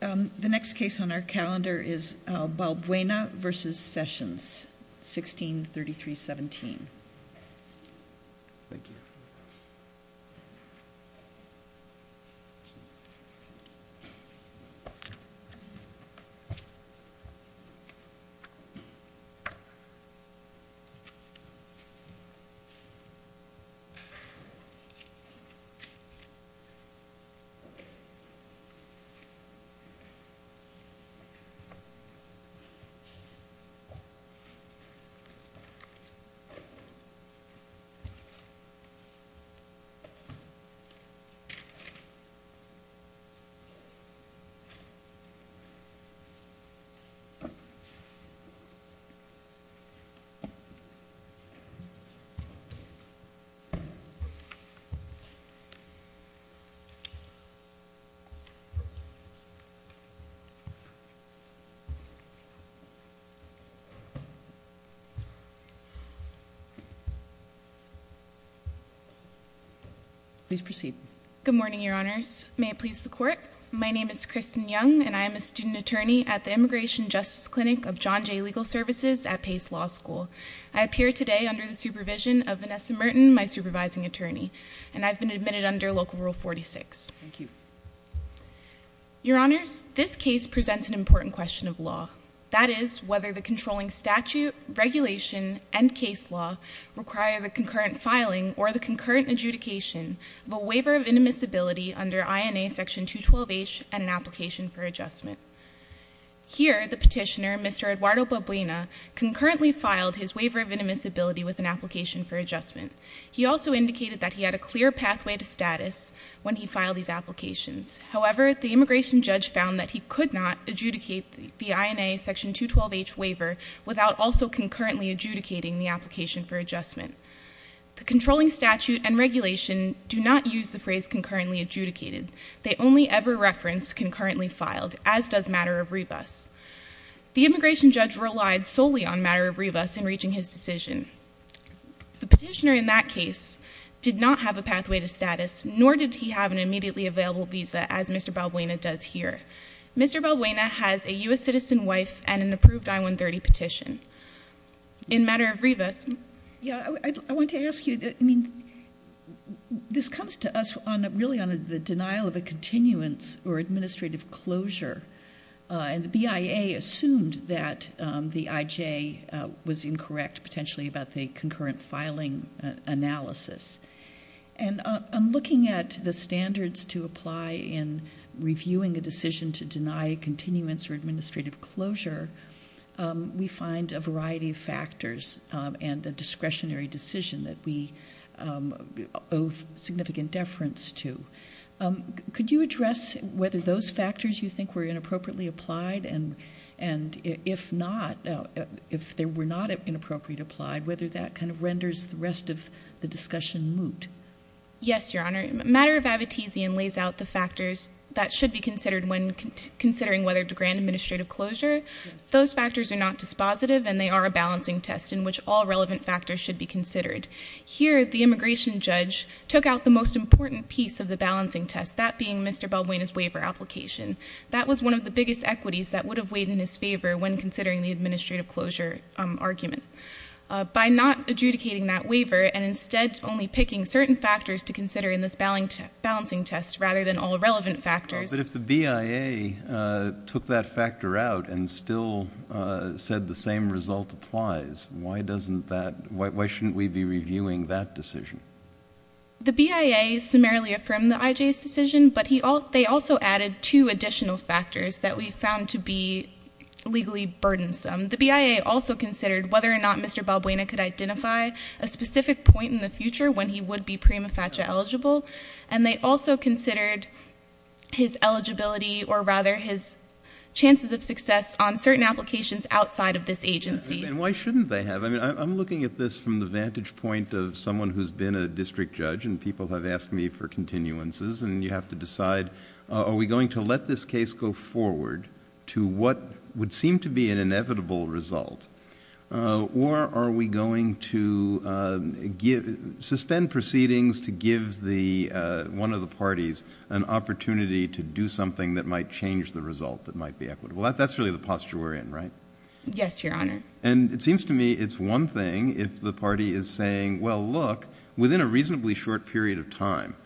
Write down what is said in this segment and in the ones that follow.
The next case on our calendar is Albuena v. Sessions, 163317. The next case on our calendar is Albuena v. Sessions, 163317. Please proceed. Good morning, your honors. May it please the court. My name is Kristen Young, and I am a student attorney at the Immigration Justice Clinic of John Jay Legal Services at Pace Law School. I appear today under the supervision of Vanessa Merton, my supervising attorney, and I've been admitted under Local Rule 46. Thank you. Your honors, this case presents an important question of law. That is, whether the controlling statute, regulation, and case law require the concurrent filing or the concurrent adjudication of a waiver of inadmissibility under INA Section 212H and an application for adjustment. Here, the petitioner, Mr. Eduardo Albuena, concurrently filed his waiver of inadmissibility with an application for adjustment. He also indicated that he had a clear pathway to status when he filed these applications. However, the immigration judge found that he could not adjudicate the INA Section 212H waiver without also concurrently adjudicating the application for adjustment. The controlling statute and regulation do not use the phrase concurrently adjudicated. They only ever reference concurrently filed, as does matter of rebus. The immigration judge relied solely on matter of rebus in reaching his decision. The petitioner in that case did not have a pathway to status, nor did he have an immediately available visa, as Mr. Albuena does here. Mr. Albuena has a U.S. citizen wife and an approved I-130 petition. In matter of rebus. Yeah, I want to ask you, I mean, this comes to us really on the denial of a continuance or administrative closure. And the BIA assumed that the IJ was incorrect, potentially, about the concurrent filing analysis. And I'm looking at the standards to apply in reviewing a decision to deny continuance or administrative closure. We find a variety of factors and a discretionary decision that we owe significant deference to. Could you address whether those factors you think were inappropriately applied? And if not, if they were not inappropriately applied, whether that kind of renders the rest of the discussion moot? Yes, Your Honor. Matter of Abbottesian lays out the factors that should be considered when considering whether to grant administrative closure. Those factors are not dispositive, and they are a balancing test in which all relevant factors should be considered. Here, the immigration judge took out the most important piece of the balancing test, that being Mr. Baldwin's waiver application. That was one of the biggest equities that would have weighed in his favor when considering the administrative closure argument. By not adjudicating that waiver and instead only picking certain factors to consider in this balancing test rather than all relevant factors. But if the BIA took that factor out and still said the same result applies, why shouldn't we be reviewing that decision? The BIA summarily affirmed the IJ's decision, but they also added two additional factors that we found to be legally burdensome. The BIA also considered whether or not Mr. Baldwin could identify a specific point in the future when he would be prima facie eligible. They also considered his eligibility or rather his chances of success on certain applications outside of this agency. Why shouldn't they have? I'm looking at this from the vantage point of someone who's been a district judge, and people have asked me for continuances. You have to decide, are we going to let this case go forward to what would seem to be an inevitable result? Or are we going to suspend proceedings to give one of the parties an opportunity to do something that might change the result that might be equitable? That's really the posture we're in, right? Yes, Your Honor. And it seems to me it's one thing if the party is saying, well, look, within a reasonably short period of time,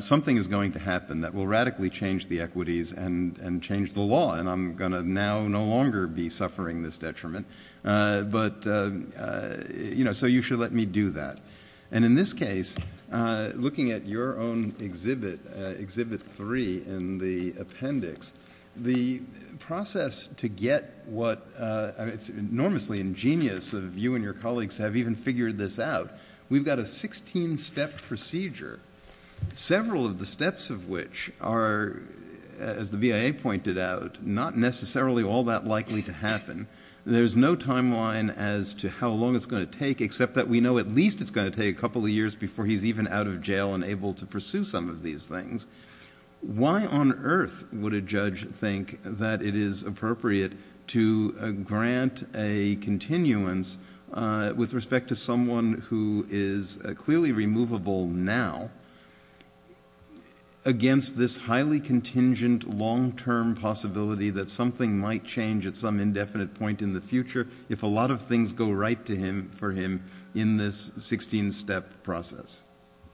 something is going to happen that will radically change the equities and change the law. And I'm going to now no longer be suffering this detriment. But, you know, so you should let me do that. And in this case, looking at your own Exhibit 3 in the appendix, the process to get what – it's enormously ingenious of you and your colleagues to have even figured this out. We've got a 16-step procedure, several of the steps of which are, as the BIA pointed out, not necessarily all that likely to happen. There's no timeline as to how long it's going to take, except that we know at least it's going to take a couple of years before he's even out of jail and able to pursue some of these things. Why on earth would a judge think that it is appropriate to grant a continuance with respect to someone who is clearly removable now against this highly contingent, long-term possibility that something might change at some indefinite point in the future if a lot of things go right for him in this 16-step process?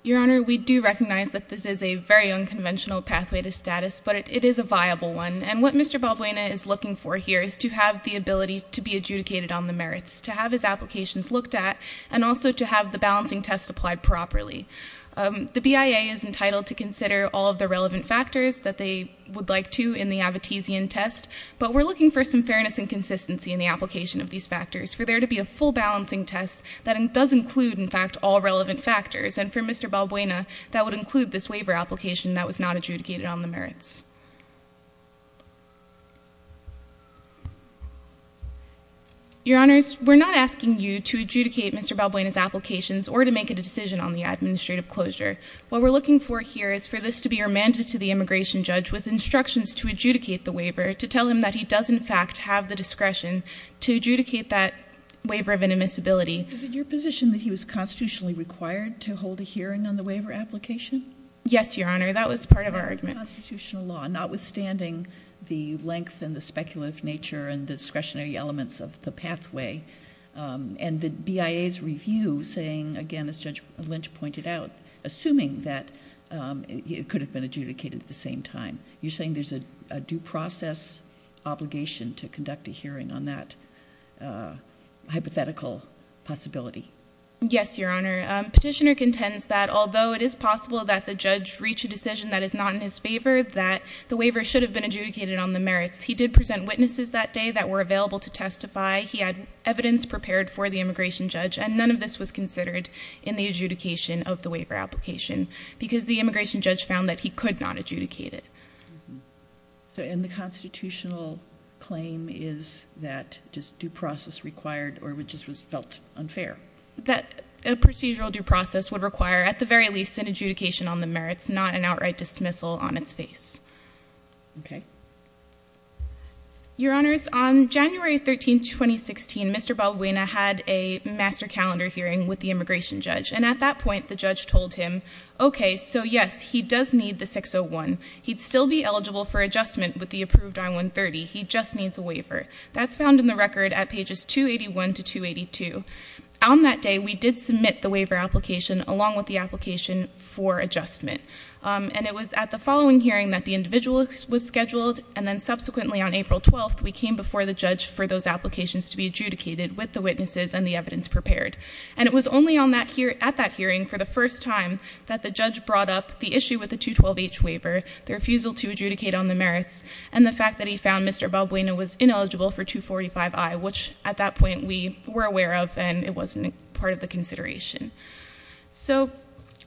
Your Honor, we do recognize that this is a very unconventional pathway to status, but it is a viable one. And what Mr. Balbuena is looking for here is to have the ability to be adjudicated on the merits, to have his applications looked at, and also to have the balancing tests applied properly. The BIA is entitled to consider all of the relevant factors that they would like to in the Abtesian test, but we're looking for some fairness and consistency in the application of these factors for there to be a full balancing test that does include, in fact, all relevant factors. And for Mr. Balbuena, that would include this waiver application that was not adjudicated on the merits. Your Honors, we're not asking you to adjudicate Mr. Balbuena's applications or to make a decision on the administrative closure. What we're looking for here is for this to be remanded to the immigration judge with instructions to adjudicate the waiver, to tell him that he does, in fact, have the discretion to adjudicate that waiver of inadmissibility. Is it your position that he was constitutionally required to hold a hearing on the waiver application? Yes, Your Honor. That was part of our argument. Under constitutional law, notwithstanding the length and the speculative nature and discretionary elements of the pathway, and the BIA's review saying, again, as Judge Lynch pointed out, assuming that it could have been adjudicated at the same time, you're saying there's a due process obligation to conduct a hearing on that hypothetical possibility? Yes, Your Honor. Petitioner contends that although it is possible that the judge reach a decision that is not in his favor, that the waiver should have been adjudicated on the merits. He did present witnesses that day that were available to testify. He had evidence prepared for the immigration judge, and none of this was considered in the adjudication of the waiver application because the immigration judge found that he could not adjudicate it. And the constitutional claim is that just due process required or just was felt unfair? That a procedural due process would require, at the very least, an adjudication on the merits, not an outright dismissal on its face. Okay. Your Honors, on January 13, 2016, Mr. Balbuena had a master calendar hearing with the immigration judge, and at that point the judge told him, okay, so yes, he does need the 601. He'd still be eligible for adjustment with the approved I-130. He just needs a waiver. That's found in the record at pages 281 to 282. On that day, we did submit the waiver application along with the application for adjustment. And it was at the following hearing that the individual was scheduled, and then subsequently on April 12th we came before the judge for those applications to be adjudicated with the witnesses and the evidence prepared. And it was only at that hearing for the first time that the judge brought up the issue with the 212-H waiver, the refusal to adjudicate on the merits, and the fact that he found Mr. Balbuena was ineligible for 245-I, which at that point we were aware of and it wasn't part of the consideration. So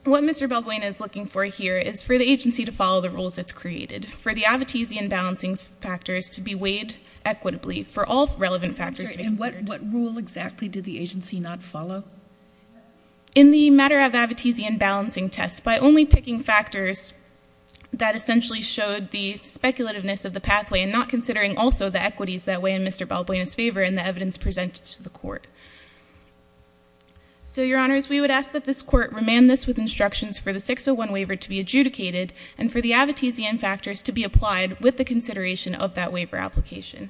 what Mr. Balbuena is looking for here is for the agency to follow the rules it's created, for the Advotezian balancing factors to be weighed equitably, for all relevant factors to be considered. And what rule exactly did the agency not follow? In the matter of Advotezian balancing tests, by only picking factors that essentially showed the speculativeness of the pathway and not considering also the equities that weigh in Mr. Balbuena's favor and the evidence presented to the court. So, Your Honors, we would ask that this court remand this with instructions for the 601 waiver to be adjudicated and for the Advotezian factors to be applied with the consideration of that waiver application.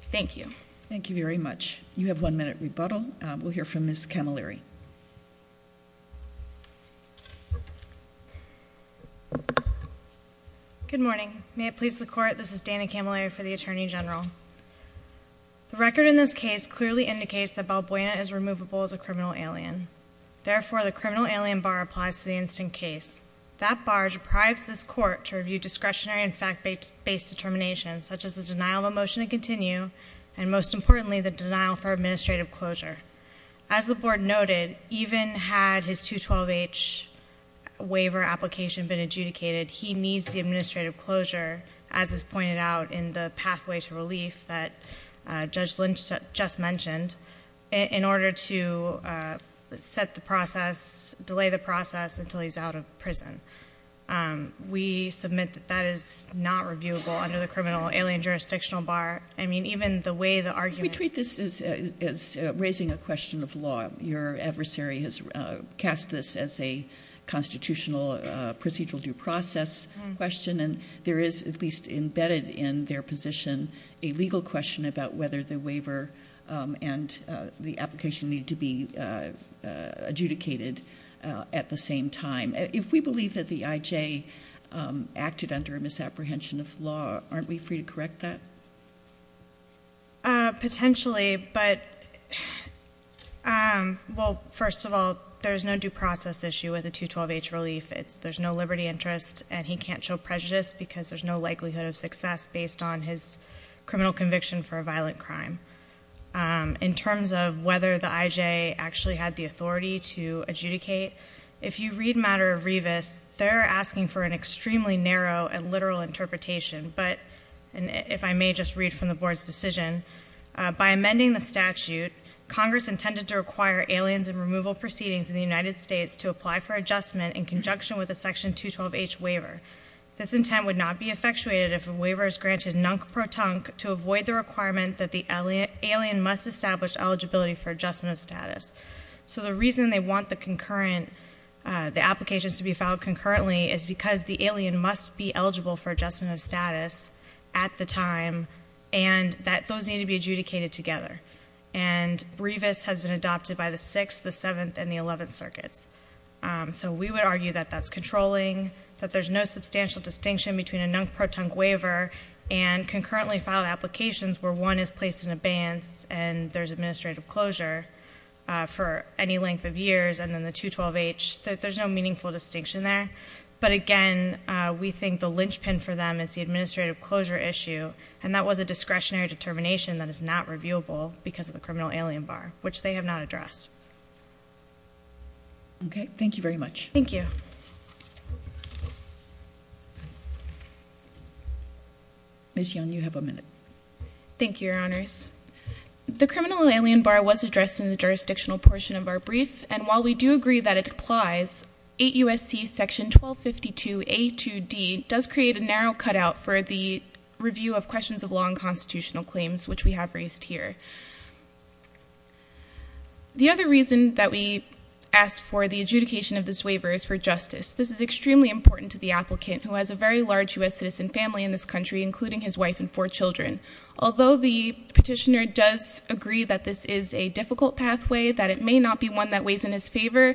Thank you. Thank you very much. You have one minute rebuttal. We'll hear from Ms. Camilleri. Good morning. May it please the Court, this is Dana Camilleri for the Attorney General. The record in this case clearly indicates that Balbuena is removable as a criminal alien. Therefore, the criminal alien bar applies to the instant case. That bar deprives this court to review discretionary and fact-based determinations, such as the denial of a motion to continue and, most importantly, the denial for administrative closure. As the Board noted, even had his 212H waiver application been adjudicated, he needs the administrative closure, as is pointed out in the pathway to relief that Judge Lynch just mentioned, in order to set the process, delay the process until he's out of prison. We submit that that is not reviewable under the criminal alien jurisdictional bar. I mean, even the way the argument- We treat this as raising a question of law. Your adversary has cast this as a constitutional procedural due process question, and there is, at least embedded in their position, a legal question about whether the waiver and the application need to be adjudicated at the same time. If we believe that the IJ acted under a misapprehension of law, aren't we free to correct that? Potentially, but, well, first of all, there's no due process issue with a 212H relief. There's no liberty interest, and he can't show prejudice because there's no likelihood of success based on his criminal conviction for a violent crime. In terms of whether the IJ actually had the authority to adjudicate, if you read Matter of Revis, they're asking for an extremely narrow and literal interpretation. But, if I may just read from the board's decision, by amending the statute, Congress intended to require aliens and removal proceedings in the United States to apply for adjustment in conjunction with a section 212H waiver. This intent would not be effectuated if a waiver is granted nunk-pro-tunk to avoid the requirement that the alien must establish eligibility for adjustment of status. So the reason they want the concurrent, the applications to be filed concurrently is because the alien must be eligible for adjustment of status at the time, and that those need to be adjudicated together. And Revis has been adopted by the 6th, the 7th, and the 11th circuits. So we would argue that that's controlling, that there's no substantial distinction between a nunk-pro-tunk waiver and concurrently filed applications where one is placed in abeyance and there's administrative closure for any length of years, and then the 212H, there's no meaningful distinction there. But again, we think the linchpin for them is the administrative closure issue, and that was a discretionary determination that is not reviewable because of the criminal alien bar, which they have not addressed. Okay. Thank you very much. Thank you. Ms. Young, you have a minute. Thank you, Your Honors. The criminal alien bar was addressed in the jurisdictional portion of our brief, and while we do agree that it applies, 8 U.S.C. section 1252A2D does create a narrow cutout for the review of questions of law and constitutional claims, which we have raised here. The other reason that we ask for the adjudication of this waiver is for justice. This is extremely important to the applicant, who has a very large U.S. citizen family in this country, including his wife and four children. Although the petitioner does agree that this is a difficult pathway, that it may not be one that weighs in his favor,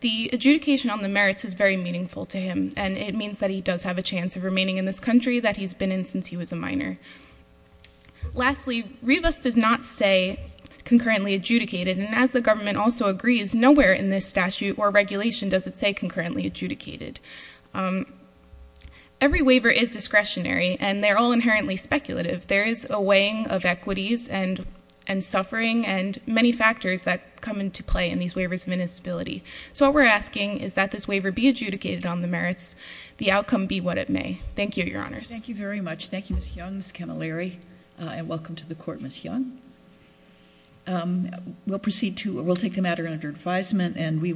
the adjudication on the merits is very meaningful to him, and it means that he does have a chance of remaining in this country that he's been in since he was a minor. Lastly, REVIS does not say concurrently adjudicated, and as the government also agrees, nowhere in this statute or regulation does it say concurrently adjudicated. Every waiver is discretionary, and they're all inherently speculative. There is a weighing of equities and suffering and many factors that come into play in these waivers' municipality. So what we're asking is that this waiver be adjudicated on the merits, the outcome be what it may. Thank you, Your Honors. Thank you very much. Thank you, Ms. Young, Ms. Camilleri, and welcome to the court, Ms. Young. We'll proceed to, we'll take the matter under advisement, and we will.